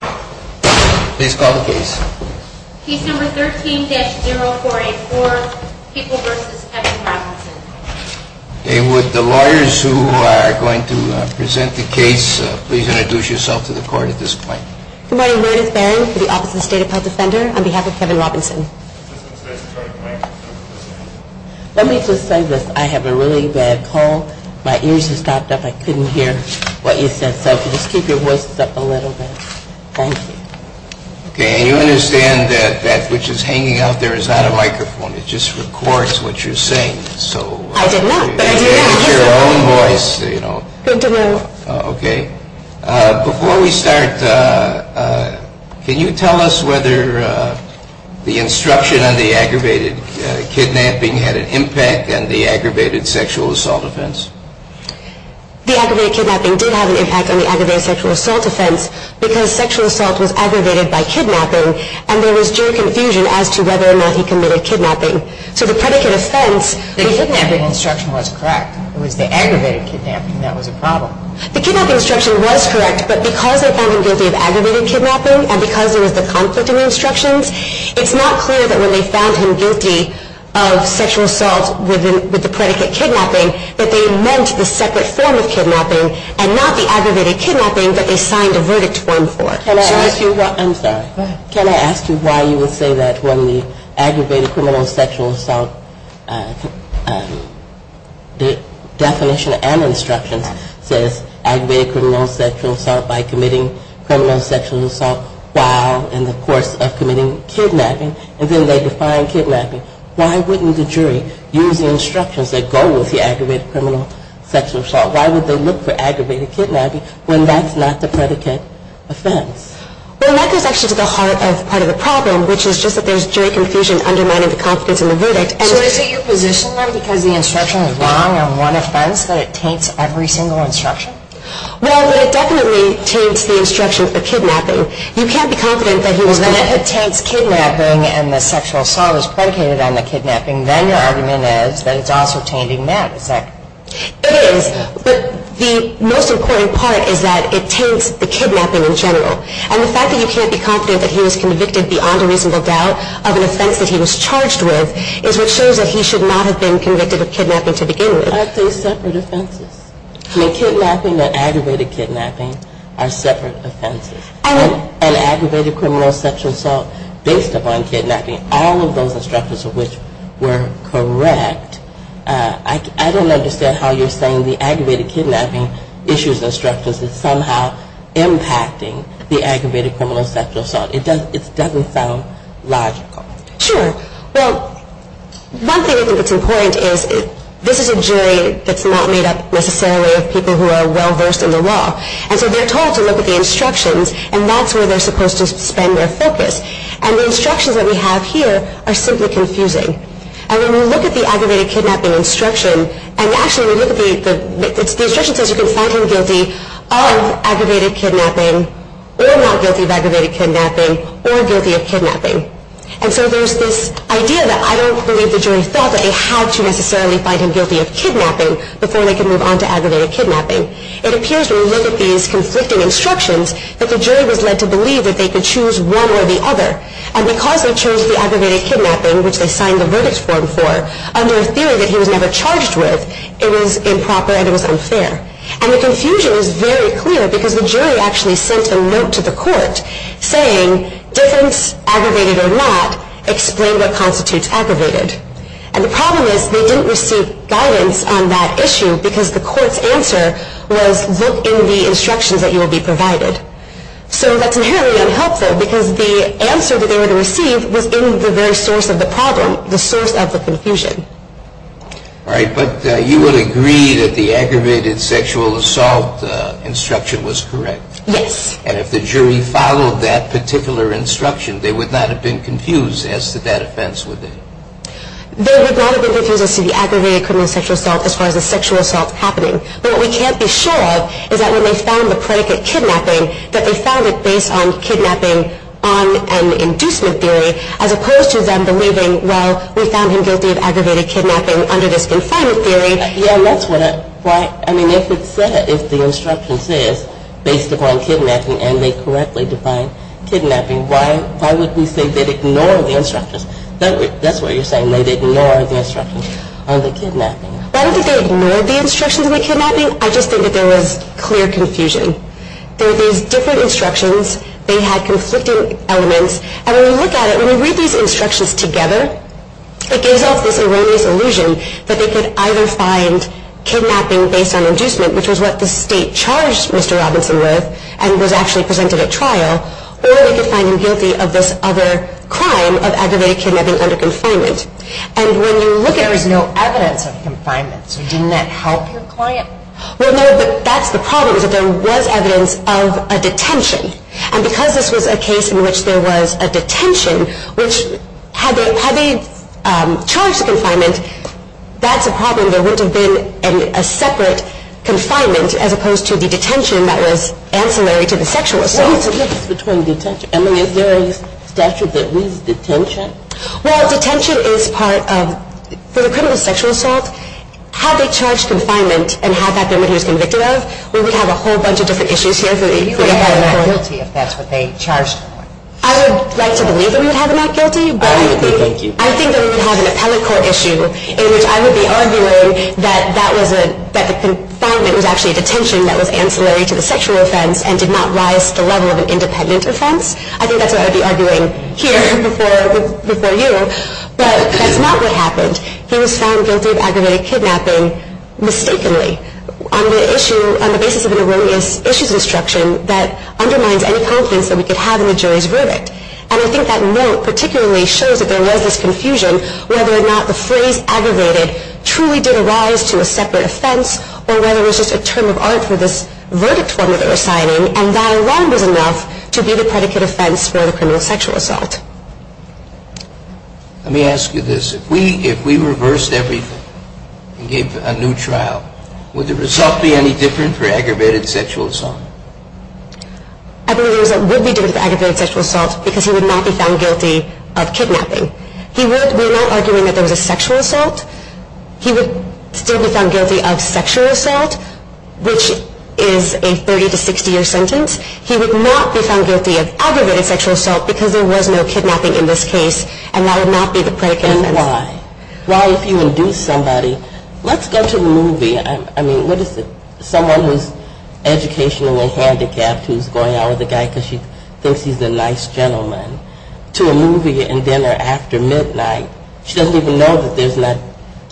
Please call the case. Case number 13-0484, People v. Kevin Robinson. David, the lawyers who are going to present the case, please introduce yourself to the court at this point. Good morning. Meredith Barron for the Office of the State Appellate Defender on behalf of Kevin Robinson. Let me just say this. I have a really bad cold. My ears have stopped up. I couldn't hear what you said, so just keep your voices up a little bit. Thank you. Okay. And you understand that that which is hanging out there is not a microphone. It just records what you're saying. I did not. It's your own voice. Good to know. Okay. Before we start, can you tell us whether the instruction on the aggravated kidnapping had an impact on the aggravated sexual assault offense? The aggravated kidnapping did have an impact on the aggravated sexual assault offense because sexual assault was aggravated by kidnapping, and there was due confusion as to whether or not he committed kidnapping. So the predicate offense, the kidnapping instruction was correct. It was the aggravated kidnapping that was a problem. The kidnapping instruction was correct, but because they found him guilty of aggravated kidnapping and because there was the conflicting instructions, it's not clear that when they found him guilty of sexual assault with the predicate kidnapping that they meant the separate form of kidnapping and not the aggravated kidnapping that they signed a verdict form for. I'm sorry. Go ahead. Can I ask you why you would say that when the aggravated criminal sexual assault definition and instructions says aggravated criminal sexual assault by committing criminal sexual assault while in the course of committing kidnapping, and then they define kidnapping, why wouldn't the jury use the instructions that go with the aggravated criminal sexual assault? Why would they look for aggravated kidnapping when that's not the predicate offense? Well, that goes actually to the heart of part of the problem, which is just that there's jury confusion undermining the confidence in the verdict. So is it your position then because the instruction is wrong on one offense that it taints every single instruction? Well, but it definitely taints the instruction of kidnapping. You can't be confident that if it taints kidnapping and the sexual assault is predicated on the kidnapping, then your argument is that it's also tainting that. It is, but the most important part is that it taints the kidnapping in general. And the fact that you can't be confident that he was convicted beyond a reasonable doubt of an offense that he was charged with is what shows that he should not have been convicted of kidnapping to begin with. I'd say separate offenses. Kidnapping and aggravated kidnapping are separate offenses. An aggravated criminal sexual assault based upon kidnapping, all of those instructions of which were correct, I don't understand how you're saying the aggravated kidnapping issues instructions is somehow impacting the aggravated criminal sexual assault. It doesn't sound logical. Sure. Well, one thing I think that's important is this is a jury that's not made up necessarily of people who are well-versed in the law. And so they're told to look at the instructions and that's where they're supposed to spend their focus. And the instructions that we have here are simply confusing. And when we look at the aggravated kidnapping instruction, and actually when we look at the instruction says you can find him guilty of aggravated kidnapping or not guilty of aggravated kidnapping or guilty of kidnapping. And so there's this idea that I don't believe the jury thought that they had to necessarily find him guilty of kidnapping before they could move on to aggravated kidnapping. It appears when we look at these conflicting instructions that the jury was led to believe that they could choose one or the other. And because they chose the aggravated kidnapping, which they signed the verdict form for, under a theory that he was never charged with, it was improper and it was unfair. And the confusion is very clear because the jury actually sent a note to the court saying difference, aggravated or not, explain what constitutes aggravated. And the problem is they didn't receive guidance on that issue because the court's answer was look in the instructions that you will be provided. So that's inherently unhelpful because the answer that they were to receive was in the very source of the problem, the source of the confusion. All right, but you would agree that the aggravated sexual assault instruction was correct? Yes. And if the jury followed that particular instruction, they would not have been confused as to that offense, would they? They would not have been confused as to the aggravated criminal sexual assault as far as the sexual assault happening. But what we can't be sure of is that when they found the predicate kidnapping, that they found it based on kidnapping on an inducement theory as opposed to them believing, well, we found him guilty of aggravated kidnapping under this confinement theory. Yeah, and that's what it, why, I mean, if it said, if the instruction says based upon kidnapping and they correctly defined kidnapping, why would we say they'd ignore the instructions? That's what you're saying, they'd ignore the instructions on the kidnapping. Why did they ignore the instructions on the kidnapping? I just think that there was clear confusion. There were these different instructions. They had conflicting elements. And when we look at it, when we read these instructions together, it gives off this erroneous illusion that they could either find kidnapping based on inducement, which was what the state charged Mr. Robinson with and was actually presented at trial, or they could find him guilty of this other crime of aggravated kidnapping under confinement. And when you look at it, there was no evidence of confinement, so didn't that help your client? Well, no, but that's the problem, is that there was evidence of a detention. And because this was a case in which there was a detention, which, had they charged the confinement, that's a problem, there wouldn't have been a separate confinement, as opposed to the detention that was ancillary to the sexual assault. What is the difference between detention? I mean, is there a statute that reads detention? Well, detention is part of, for the criminal sexual assault, had they charged confinement and had that there when he was convicted of, we would have a whole bunch of different issues here. You would have him not guilty if that's what they charged him with. I would like to believe that we would have him not guilty, but I think that we would have an appellate court issue in which I would be arguing that the confinement was actually a detention that was ancillary to the sexual offense and did not rise to the level of an independent offense. I think that's what I would be arguing here before you. But that's not what happened. He was found guilty of aggravated kidnapping mistakenly. On the basis of an erroneous issues instruction that undermines any confidence that we could have in the jury's verdict. And I think that note particularly shows that there was this confusion whether or not the phrase aggravated truly did arise to a separate offense or whether it was just a term of art for this verdict form that they were signing and that alone was enough to be the predicate offense for the criminal sexual assault. Let me ask you this. If we reversed everything and gave a new trial, would the result be any different for aggravated sexual assault? I believe the result would be different for aggravated sexual assault because he would not be found guilty of kidnapping. We're not arguing that there was a sexual assault. He would still be found guilty of sexual assault, which is a 30 to 60 year sentence. He would not be found guilty of aggravated sexual assault because there was no kidnapping in this case and that would not be the predicate offense. And why? Why if you induce somebody, let's go to the movie. I mean, what is it, someone who's educationally handicapped who's going out with a guy because she thinks he's a nice gentleman to a movie and dinner after midnight. She doesn't even know that there's not,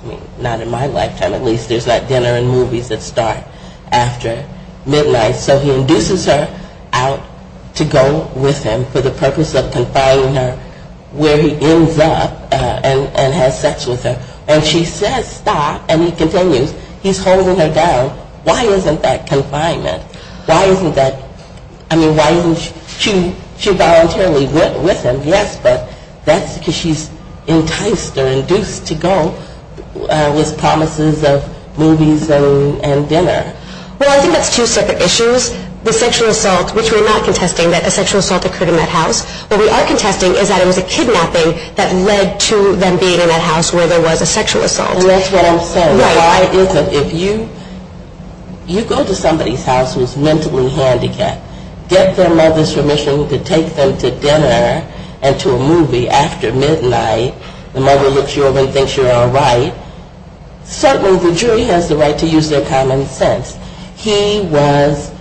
I mean, not in my lifetime at least, there's not dinner and movies that start after midnight. So he induces her out to go with him for the purpose of confining her where he ends up and has sex with her. And she says stop and he continues. He's holding her down. Why isn't that confinement? Why isn't that, I mean, why isn't she voluntarily with him? Yes, but that's because she's enticed or induced to go with promises of movies and dinner. Well, I think that's two separate issues. The sexual assault, which we're not contesting that a sexual assault occurred in that house, what we are contesting is that it was a kidnapping that led to them being in that house where there was a sexual assault. And that's what I'm saying. Why is it if you go to somebody's house who's mentally handicapped, get their mother's permission to take them to dinner and to a movie after midnight, the mother looks you over and thinks you're all right, certainly the jury has the right to use their common sense. He was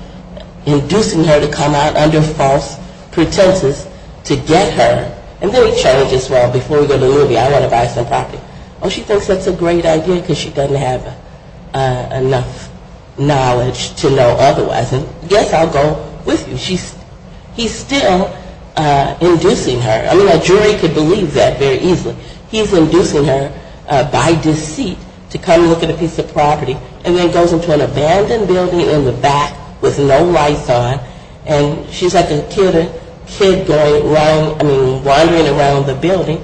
inducing her to come out under false pretenses to get her. And then he changes, well, before we go to the movie, I want to buy some property. Oh, she thinks that's a great idea because she doesn't have enough knowledge to know otherwise. And yes, I'll go with you. He's still inducing her. I mean, a jury could believe that very easily. He's inducing her by deceit to come look at a piece of property and then goes into an abandoned building in the back with no lights on, and she's like a kid wandering around the building.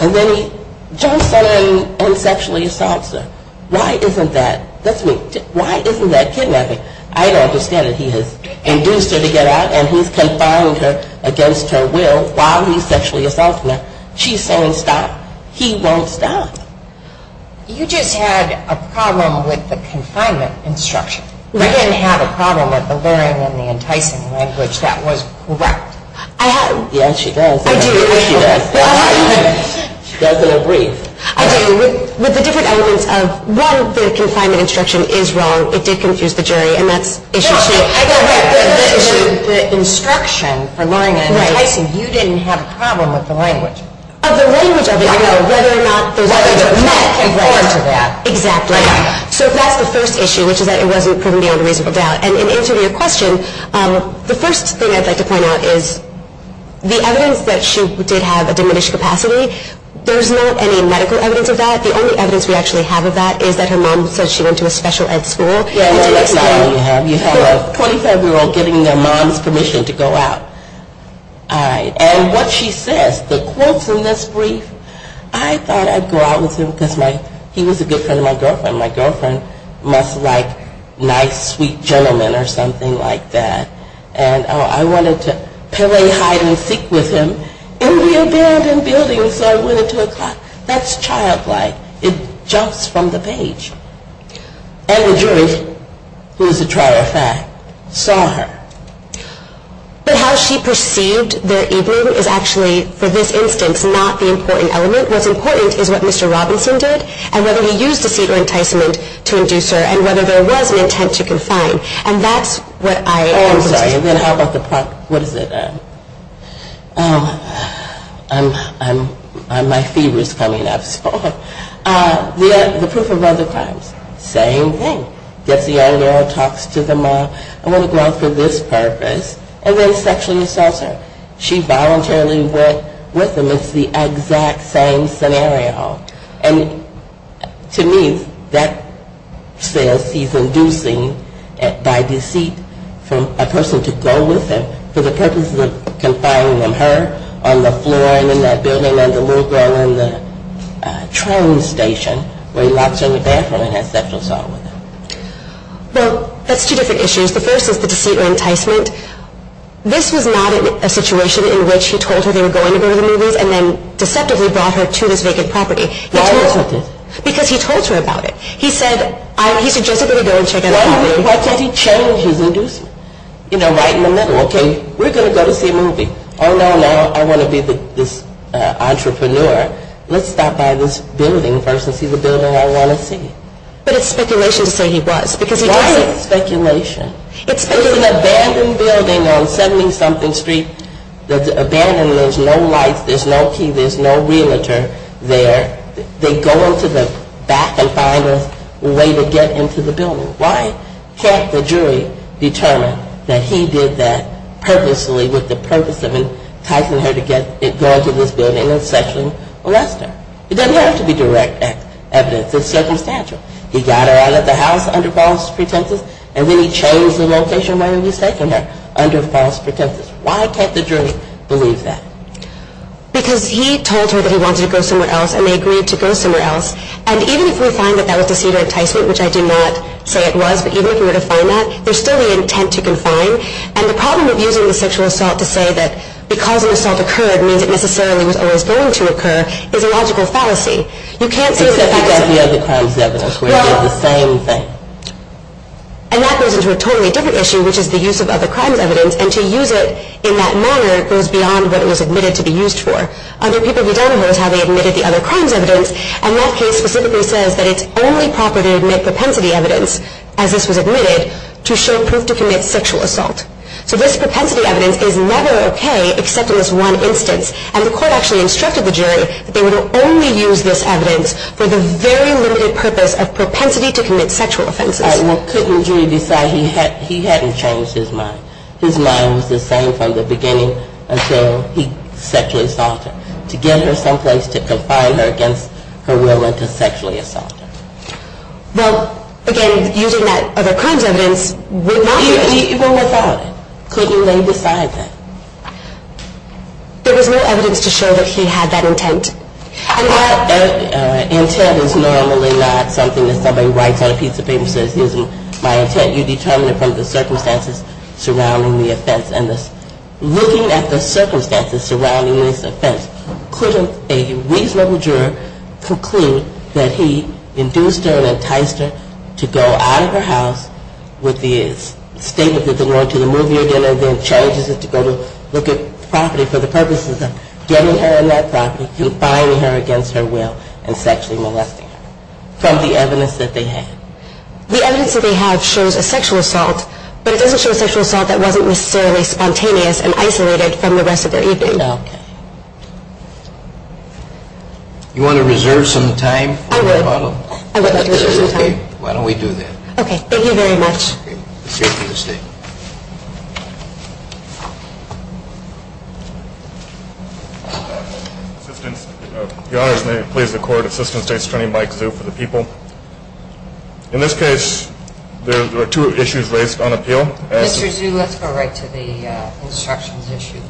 And then he jumps on her and sexually assaults her. Why isn't that kidnapping? I don't understand it. He has induced her to get out and he's confined her against her will while he's sexually assaulting her. She's saying stop. He won't stop. You just had a problem with the confinement instruction. You didn't have a problem with the luring and the enticing language. That was correct. Yes, she does. I do. She doesn't agree. I do. With the different elements of, one, the confinement instruction is wrong. It did confuse the jury, and that's issue two. The instruction for luring and enticing, you didn't have a problem with the language. Of the language of it. I know. Whether or not those elements met. Whether or not she came forward to that. Exactly. Right. So that's the first issue, which is that it wasn't proven beyond a reasonable doubt. And in answer to your question, the first thing I'd like to point out is the evidence that she did have a diminished capacity, there's not any medical evidence of that. The only evidence we actually have of that is that her mom said she went to a special ed school. Yes, that's not all you have. You have a 25-year-old getting their mom's permission to go out. And what she says, the quotes in this brief, I thought I'd go out with him because he was a good friend of my girlfriend. My girlfriend must like nice, sweet gentlemen or something like that. And I wanted to play hide-and-seek with him in the abandoned building, so I went into a closet. That's childlike. It jumps from the page. And the jury, who is a trial of fact, saw her. But how she perceived their evening is actually, for this instance, not the important element. What's important is what Mr. Robinson did and whether he used deceit or enticement to induce her and whether there was an intent to confine. And that's what I understood. Oh, I'm sorry. And then how about the, what is it? My fever is coming up. The proof of other crimes. Same thing. Gets the young girl, talks to the mom. I want to go out for this purpose. And then sexually assaults her. She voluntarily went with him. It's the exact same scenario. And to me, that says he's inducing, by deceit, for a person to go with him for the purposes of confining them. Her on the floor in that building and the little girl in the train station where he locks her in the bathroom and has sexual assault with her. Well, that's two different issues. The first is the deceit or enticement. This was not a situation in which he told her they were going to go to the movies and then deceptively brought her to this vacant property. Why wasn't it? Because he told her about it. He said, he suggested that he go and check out the movie. Why can't he change his inducement? You know, right in the middle. Okay, we're going to go to see a movie. Oh, no, no, I want to be this entrepreneur. Let's stop by this building first and see the building I want to see. But it's speculation to say he was. Why is it speculation? It's speculation. There's an abandoned building on 70-something street that's abandoned. There's no lights. There's no key. There's no realtor there. They go into the back and find a way to get into the building. Why can't the jury determine that he did that purposely with the purpose of enticing her to go into this building and sexually molest her? It doesn't have to be direct evidence. It's circumstantial. He got her out of the house under false pretenses, and then he changed the location where he was taking her under false pretenses. Why can't the jury believe that? Because he told her that he wanted to go somewhere else, and they agreed to go somewhere else. And even if we find that that was deceit or enticement, which I did not say it was, but even if we were to find that, there's still the intent to confine. And the problem of using the sexual assault to say that because an assault occurred means it necessarily was always going to occur is a logical fallacy. You can't say that the facts are the same. And that goes into a totally different issue, which is the use of other crimes evidence. And to use it in that manner goes beyond what it was admitted to be used for. Other people, we don't know how they admitted the other crimes evidence. And that case specifically says that it's only proper to admit propensity evidence, as this was admitted, to show proof to commit sexual assault. So this propensity evidence is never okay except in this one instance. And the court actually instructed the jury that they would only use this evidence for the very limited purpose of propensity to commit sexual offenses. Well, couldn't the jury decide he hadn't changed his mind? His mind was the same from the beginning until he sexually assaulted her. To get her someplace to confine her against her will and to sexually assault her. Well, again, using that other crimes evidence would not be right. Even without it, couldn't they decide that? There was no evidence to show that he had that intent. And that intent is normally not something that somebody writes on a piece of paper and says, here's my intent, you determine it from the circumstances surrounding the offense. And looking at the circumstances surrounding this offense, couldn't a reasonable juror conclude that he induced her and enticed her to go out of her house with the statement that they wanted to move here again and then charges her to go look at property for the purposes of getting her in that property, confining her against her will, and sexually molesting her from the evidence that they had. The evidence that they have shows a sexual assault, but it doesn't show a sexual assault that wasn't necessarily spontaneous and isolated from the rest of their evening. Thank you. You want to reserve some time? I would like to reserve some time. Why don't we do that. Okay. Thank you very much. If your honors may please the court, Assistant State Attorney Mike Zhu for the people. In this case there are two issues raised on appeal. Mr. Zhu, let's go right to the instructions issue.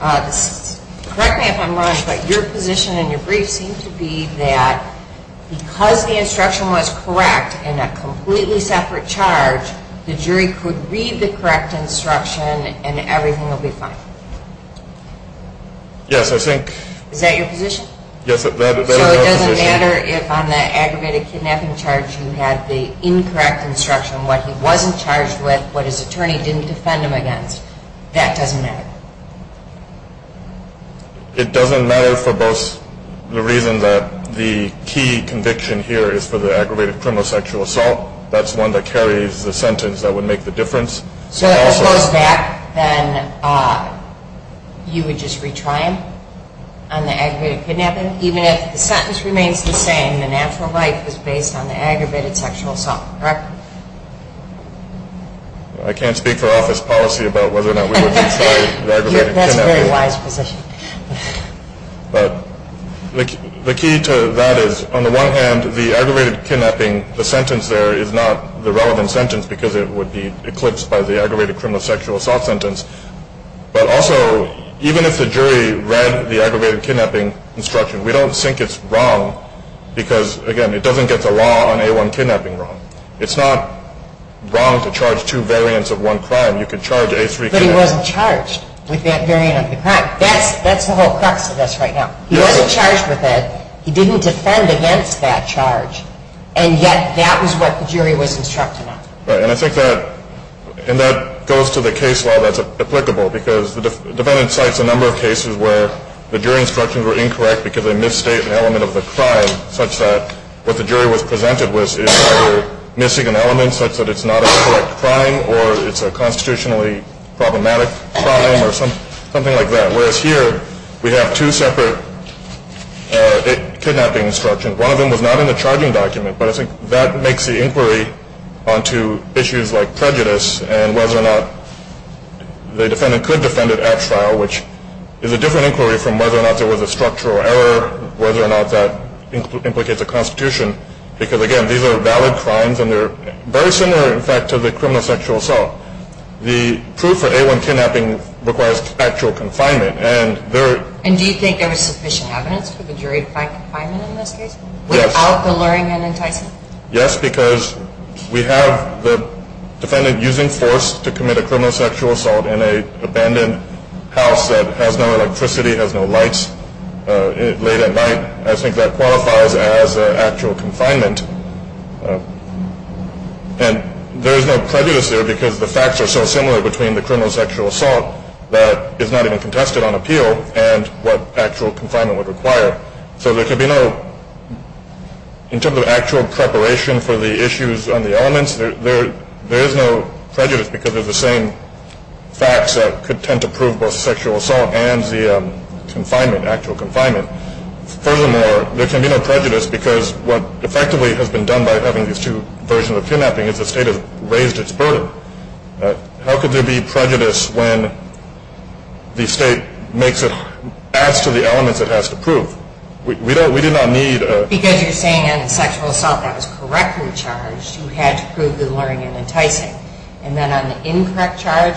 Correct me if I'm wrong, but your position in your brief seemed to be that because the instruction was correct in a completely separate charge, the jury could read the correct instruction and everything will be fine. Yes, I think. Is that your position? Yes, that is my position. So it doesn't matter if on the aggravated kidnapping charge you had the incorrect instruction, what he wasn't charged with, what his attorney didn't defend him against, that doesn't matter? It doesn't matter for both the reason that the key conviction here is for the aggravated criminal sexual assault. That's one that carries the sentence that would make the difference. So if it was that, then you would just retry him on the aggravated kidnapping? Even if the sentence remains the same, the natural life is based on the aggravated sexual assault, correct? I can't speak for office policy about whether or not we would retry the aggravated kidnapping. That's a very wise position. But the key to that is on the one hand, the aggravated kidnapping, the sentence there is not the relevant sentence because it would be eclipsed by the aggravated criminal sexual assault sentence. But also, even if the jury read the aggravated kidnapping instruction, we don't think it's wrong because, again, it doesn't get the law on A1 kidnapping wrong. It's not wrong to charge two variants of one crime. You could charge A3 kidnapping. But he wasn't charged with that variant of the crime. That's the whole crux of this right now. He wasn't charged with that. He didn't defend against that charge, and yet that was what the jury was instructing him. And I think that goes to the case law that's applicable because the defendant cites a number of cases where the jury instructions were incorrect because they misstate an element of the crime such that what the jury was presented with is either missing an element such that it's not a correct crime or it's a constitutionally problematic crime or something like that. Whereas here we have two separate kidnapping instructions. One of them was not in the charging document. But I think that makes the inquiry onto issues like prejudice and whether or not the defendant could defend at trial, which is a different inquiry from whether or not there was a structural error, whether or not that implicates a constitution because, again, these are valid crimes and they're very similar, in fact, to the criminal sexual assault. The proof for A1 kidnapping requires actual confinement. And do you think there was sufficient evidence for the jury to find confinement in this case without the luring and enticing? Yes, because we have the defendant using force to commit a criminal sexual assault in an abandoned house that has no electricity, has no lights, late at night. I think that qualifies as actual confinement. And there is no prejudice there because the facts are so similar between the criminal sexual assault that is not even contested on appeal and what actual confinement would require. So there could be no – in terms of actual preparation for the issues on the elements, there is no prejudice because they're the same facts that could tend to prove both sexual assault and the confinement, actual confinement. Furthermore, there can be no prejudice because what effectively has been done by having these two versions of kidnapping is the state has raised its burden. How could there be prejudice when the state adds to the elements it has to prove? We did not need a – Because you're saying in a sexual assault that was correctly charged, you had to prove the luring and enticing. And then on the incorrect charge,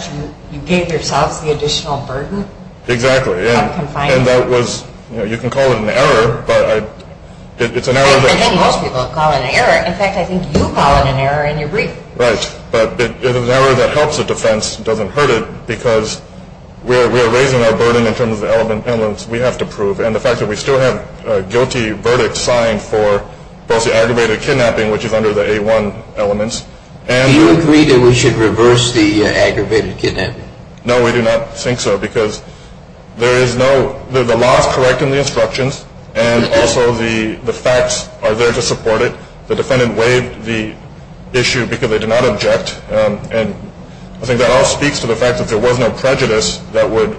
you gave yourself the additional burden of confinement. Exactly. And that was – you can call it an error, but it's an error that – I think most people call it an error. In fact, I think you call it an error in your brief. Right. But an error that helps the defense doesn't hurt it because we are raising our burden in terms of the elements we have to prove. And the fact that we still have a guilty verdict signed for both the aggravated kidnapping, which is under the A1 elements, and – Do you agree that we should reverse the aggravated kidnapping? No, we do not think so because there is no – the law is correct in the instructions, and also the facts are there to support it. The defendant waived the issue because they did not object, and I think that all speaks to the fact that there was no prejudice that would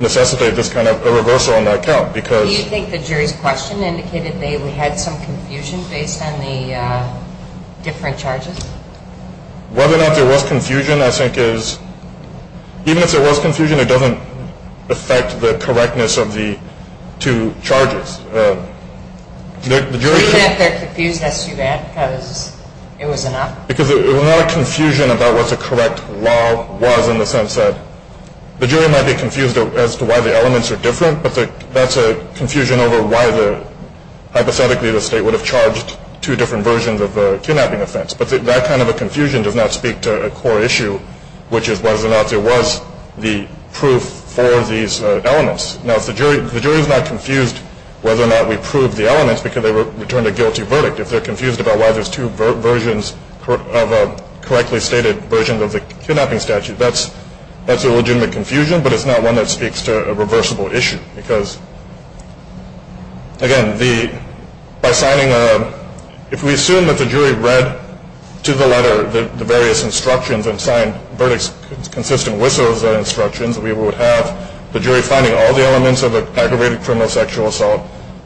necessitate this kind of reversal on that count because – Do you think the jury's question indicated they had some confusion based on the different charges? Whether or not there was confusion, I think, is – even if there was confusion, it doesn't affect the correctness of the two charges. Do you think that their confusion is too bad because it was enough? Because it was not a confusion about what the correct law was in the sense that – the jury might be confused as to why the elements are different, but that's a confusion over why, hypothetically, the state would have charged two different versions of a kidnapping offense. But that kind of a confusion does not speak to a core issue, which is whether or not there was the proof for these elements. Now, if the jury is not confused whether or not we proved the elements because they returned a guilty verdict, if they're confused about why there's two versions of a correctly stated version of the kidnapping statute, that's a legitimate confusion, but it's not one that speaks to a reversible issue. Because, again, by signing a – if we assume that the jury read to the letter the various instructions and signed verdicts consistent with those instructions, we would have the jury finding all the elements of an aggravated criminal sexual assault,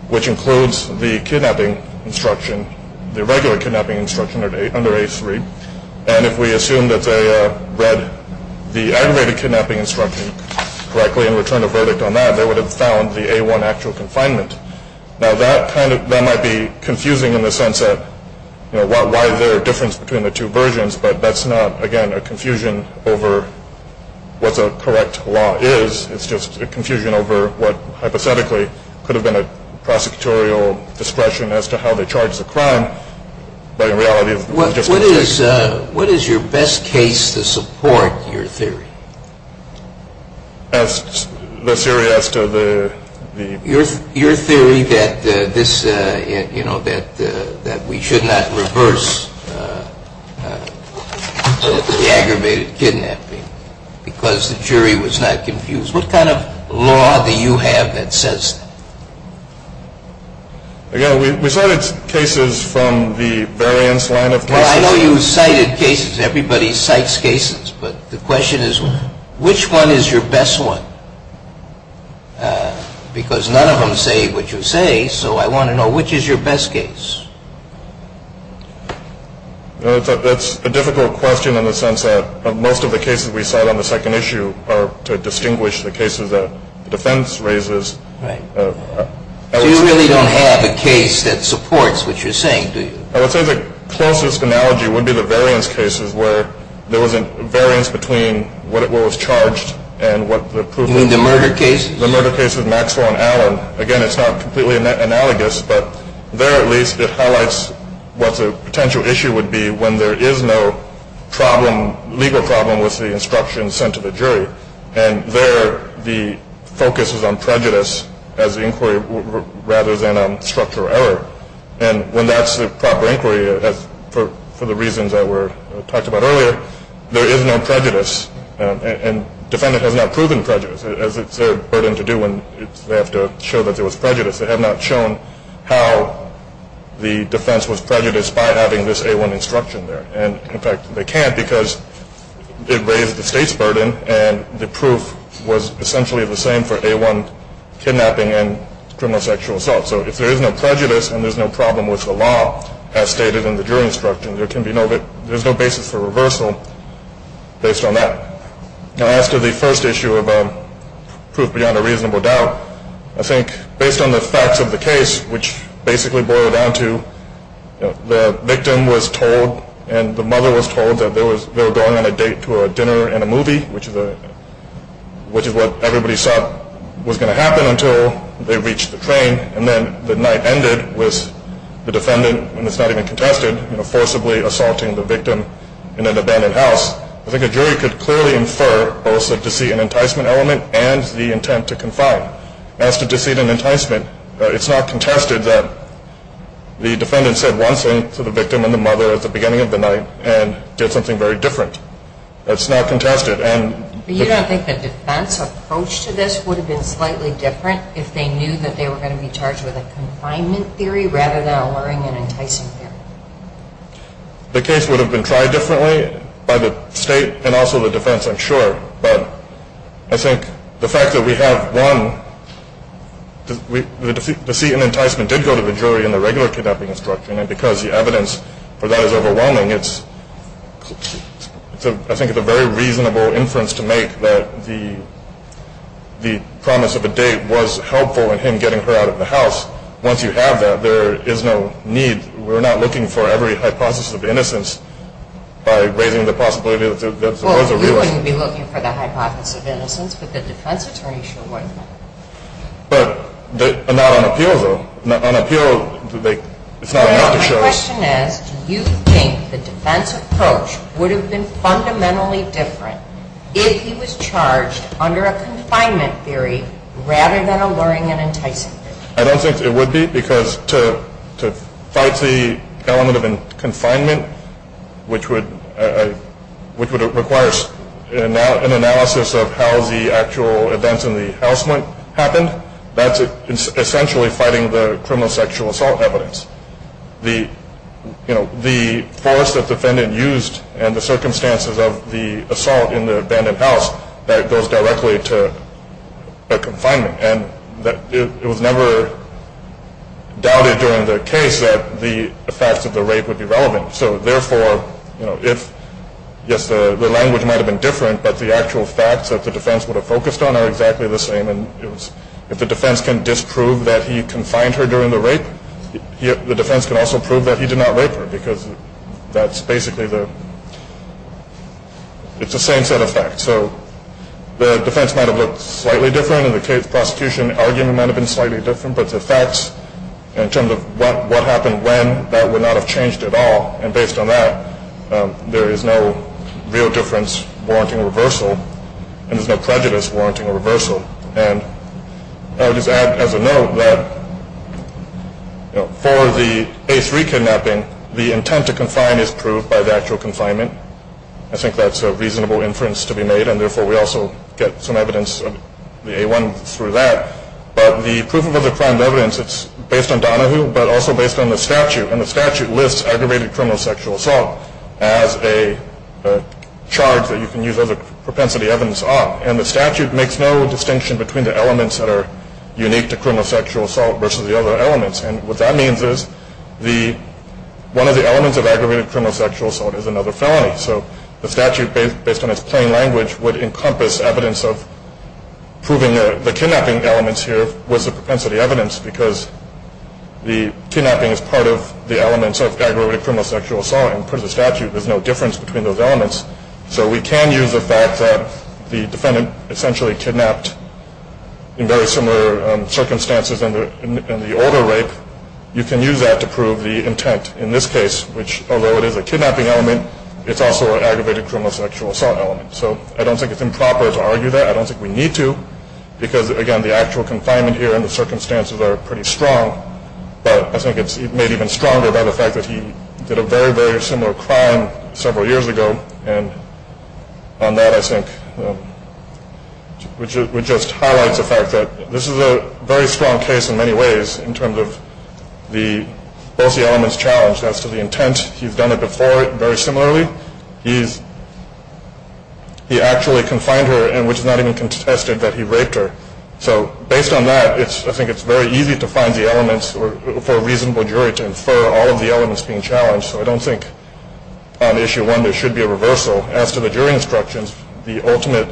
which includes the kidnapping instruction, the regular kidnapping instruction under A3. And if we assume that they read the aggravated kidnapping instruction correctly and returned a verdict on that, they would have found the A1 actual confinement. Now, that kind of – that might be confusing in the sense that, you know, why is there a difference between the two versions, but that's not, again, a confusion over what the correct law is. It's just a confusion over what hypothetically could have been a prosecutorial discretion as to how they charge the crime, but in reality – What is your best case to support your theory? The theory as to the – Your theory that this – you know, that we should not reverse the aggravated kidnapping because the jury was not confused. What kind of law do you have that says that? Again, we cited cases from the variance line of cases. Well, I know you cited cases. Everybody cites cases, but the question is, which one is your best one? Because none of them say what you say, so I want to know, which is your best case? That's a difficult question in the sense that most of the cases we cite on the second issue are to distinguish the cases that the defense raises. Right. So you really don't have a case that supports what you're saying, do you? I would say the closest analogy would be the variance cases where there was a variance between what was charged and what the proof is. You mean the murder cases? The murder cases, Maxwell and Allen. Again, it's not completely analogous, but there at least it highlights what the potential issue would be when there is no problem, legal problem, with the instruction sent to the jury. And there the focus is on prejudice as the inquiry rather than on structural error. And when that's the proper inquiry, for the reasons that were talked about earlier, there is no prejudice and defendant has not proven prejudice, as it's their burden to do when they have to show that there was prejudice. They have not shown how the defense was prejudiced by having this A1 instruction there. And, in fact, they can't because it raises the state's burden and the proof was essentially the same for A1 kidnapping and criminal sexual assault. So if there is no prejudice and there's no problem with the law, as stated in the jury instruction, there's no basis for reversal based on that. Now, as to the first issue of proof beyond a reasonable doubt, I think based on the facts of the case, which basically boil down to the victim was told and the mother was told that they were going on a date to a dinner and a movie, which is what everybody thought was going to happen until they reached the train, and then the night ended with the defendant, when it's not even contested, forcibly assaulting the victim in an abandoned house, I think a jury could clearly infer both the deceit and enticement element and the intent to confine. As to deceit and enticement, it's not contested that the defendant said one thing to the victim and the mother at the beginning of the night and did something very different. That's not contested. But you don't think the defense approach to this would have been slightly different if they knew that they were going to be charged with a confinement theory rather than a luring and enticing theory? The case would have been tried differently by the state and also the defense, I'm sure. But I think the fact that we have one, the deceit and enticement did go to the jury in the regular kidnapping instruction, and because the evidence for that is overwhelming, I think it's a very reasonable inference to make that the promise of a date was helpful in him getting her out of the house. Once you have that, there is no need. We're not looking for every hypothesis of innocence by raising the possibility that there was a real one. Well, you wouldn't be looking for the hypothesis of innocence, but the defense attorney sure would. But not on appeal, though. On appeal, it's not enough to show. My question is, do you think the defense approach would have been fundamentally different if he was charged under a confinement theory rather than a luring and enticing theory? I don't think it would be, because to fight the element of confinement, which requires an analysis of how the actual events in the house might have happened, that's essentially fighting the criminal sexual assault evidence. The force that the defendant used and the circumstances of the assault in the abandoned house, that goes directly to a confinement. And it was never doubted during the case that the facts of the rape would be relevant. So, therefore, yes, the language might have been different, but the actual facts that the defense would have focused on are exactly the same. And if the defense can disprove that he confined her during the rape, the defense can also prove that he did not rape her, because that's basically the same set of facts. So the defense might have looked slightly different, and the case prosecution argument might have been slightly different, but the facts in terms of what happened when, that would not have changed at all. And based on that, there is no real difference warranting a reversal, and there's no prejudice warranting a reversal. And I would just add, as a note, that for the A3 kidnapping, the intent to confine is proved by the actual confinement. I think that's a reasonable inference to be made, and, therefore, we also get some evidence of the A1 through that. But the proof of other crime evidence, it's based on Donahue, but also based on the statute. And the statute lists aggravated criminal sexual assault as a charge that you can use other propensity evidence on. And the statute makes no distinction between the elements that are unique to criminal sexual assault versus the other elements. And what that means is one of the elements of aggravated criminal sexual assault is another felony. So the statute, based on its plain language, would encompass evidence of proving the kidnapping elements here was a propensity evidence, because the kidnapping is part of the elements of aggravated criminal sexual assault. And per the statute, there's no difference between those elements. So we can use the fact that the defendant essentially kidnapped in very similar circumstances in the older rape. You can use that to prove the intent in this case, which, although it is a kidnapping element, it's also an aggravated criminal sexual assault element. So I don't think it's improper to argue that. I don't think we need to, because, again, the actual confinement here and the circumstances are pretty strong. But I think it's made even stronger by the fact that he did a very, very similar crime several years ago. And on that, I think, which just highlights the fact that this is a very strong case in many ways, in terms of both the elements challenged as to the intent. He's done it before very similarly. He actually confined her, and which is not even contested, that he raped her. So based on that, I think it's very easy to find the elements for a reasonable jury to infer all of the elements being challenged. So I don't think on Issue 1 there should be a reversal. As to the jury instructions, the ultimate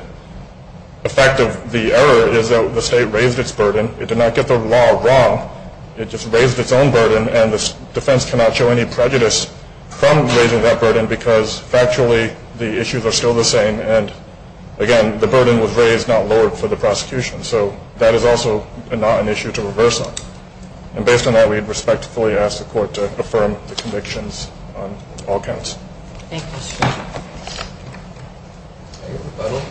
effect of the error is that the state raised its burden. It did not get the law wrong. It just raised its own burden, and the defense cannot show any prejudice from raising that burden because, factually, the issues are still the same. And, again, the burden was raised, not lowered for the prosecution. So that is also not an issue to reverse on. And based on that, we'd respectfully ask the court to affirm the convictions on all counts. Thank you, Mr. Chairman. Any rebuttal?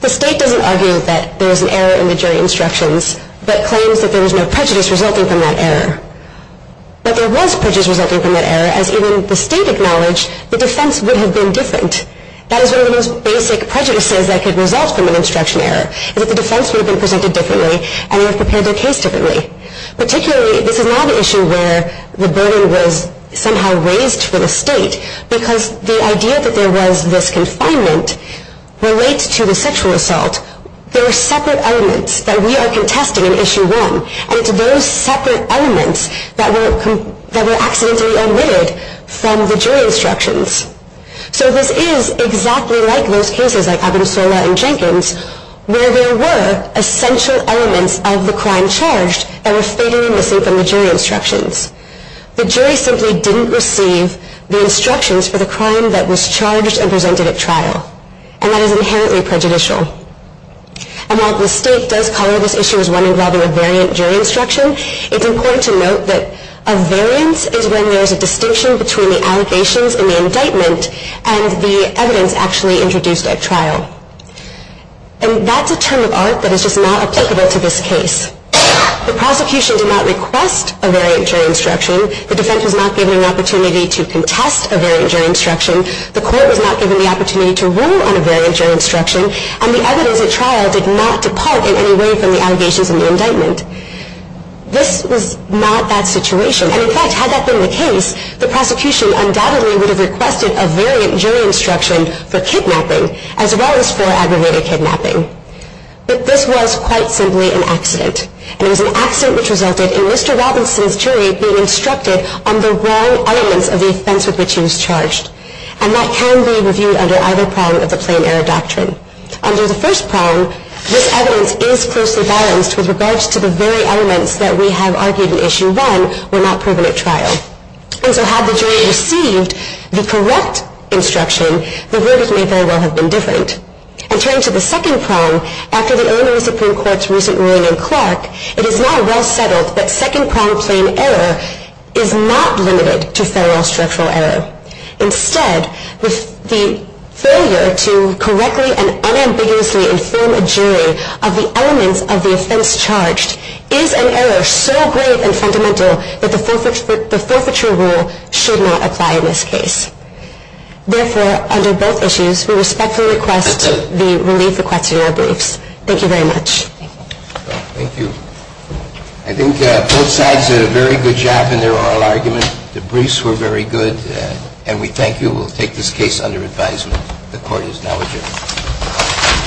The state doesn't argue that there is an error in the jury instructions, but claims that there was no prejudice resulting from that error. But there was prejudice resulting from that error, as even the state acknowledged the defense would have been different. That is one of the most basic prejudices that could result from an instruction error, is that the defense would have been presented differently and would have prepared their case differently. Particularly, this is not an issue where the burden was somehow raised for the state because the idea that there was this confinement relates to the sexual assault. There are separate elements that we are contesting in Issue 1, and it's those separate elements that were accidentally omitted from the jury instructions. So this is exactly like those cases like Abensola and Jenkins, where there were essential elements of the crime charged that were fatally missing from the jury instructions. The jury simply didn't receive the instructions for the crime that was charged and presented at trial. And that is inherently prejudicial. And while the state does call this Issue 1 involving a variant jury instruction, it's important to note that a variance is when there is a distinction between the allegations in the indictment and the evidence actually introduced at trial. And that's a term of art that is just not applicable to this case. The prosecution did not request a variant jury instruction. The defense was not given an opportunity to contest a variant jury instruction. The court was not given the opportunity to rule on a variant jury instruction. And the evidence at trial did not depart in any way from the allegations in the indictment. This was not that situation. And in fact, had that been the case, the prosecution undoubtedly would have requested a variant jury instruction for kidnapping, as well as for aggravated kidnapping. But this was quite simply an accident. And it was an accident which resulted in Mr. Robinson's jury being instructed on the wrong elements of the offense with which he was charged. And that can be reviewed under either prong of the plain error doctrine. Under the first prong, this evidence is closely balanced with regards to the very elements that we have argued in Issue 1 were not proven at trial. And so had the jury received the correct instruction, the verdict may very well have been different. And turning to the second prong, after the Illinois Supreme Court's recent ruling in Clark, it is now well settled that second prong plain error is not limited to federal structural error. Instead, the failure to correctly and unambiguously inform a jury of the elements of the offense charged is an error so great and fundamental that the forfeiture rule should not apply in this case. Therefore, under both issues, we respectfully request the relief requested in our briefs. Thank you very much. Thank you. I think both sides did a very good job in their oral argument. The briefs were very good. And we thank you. We'll take this case under advisement. The Court is now adjourned.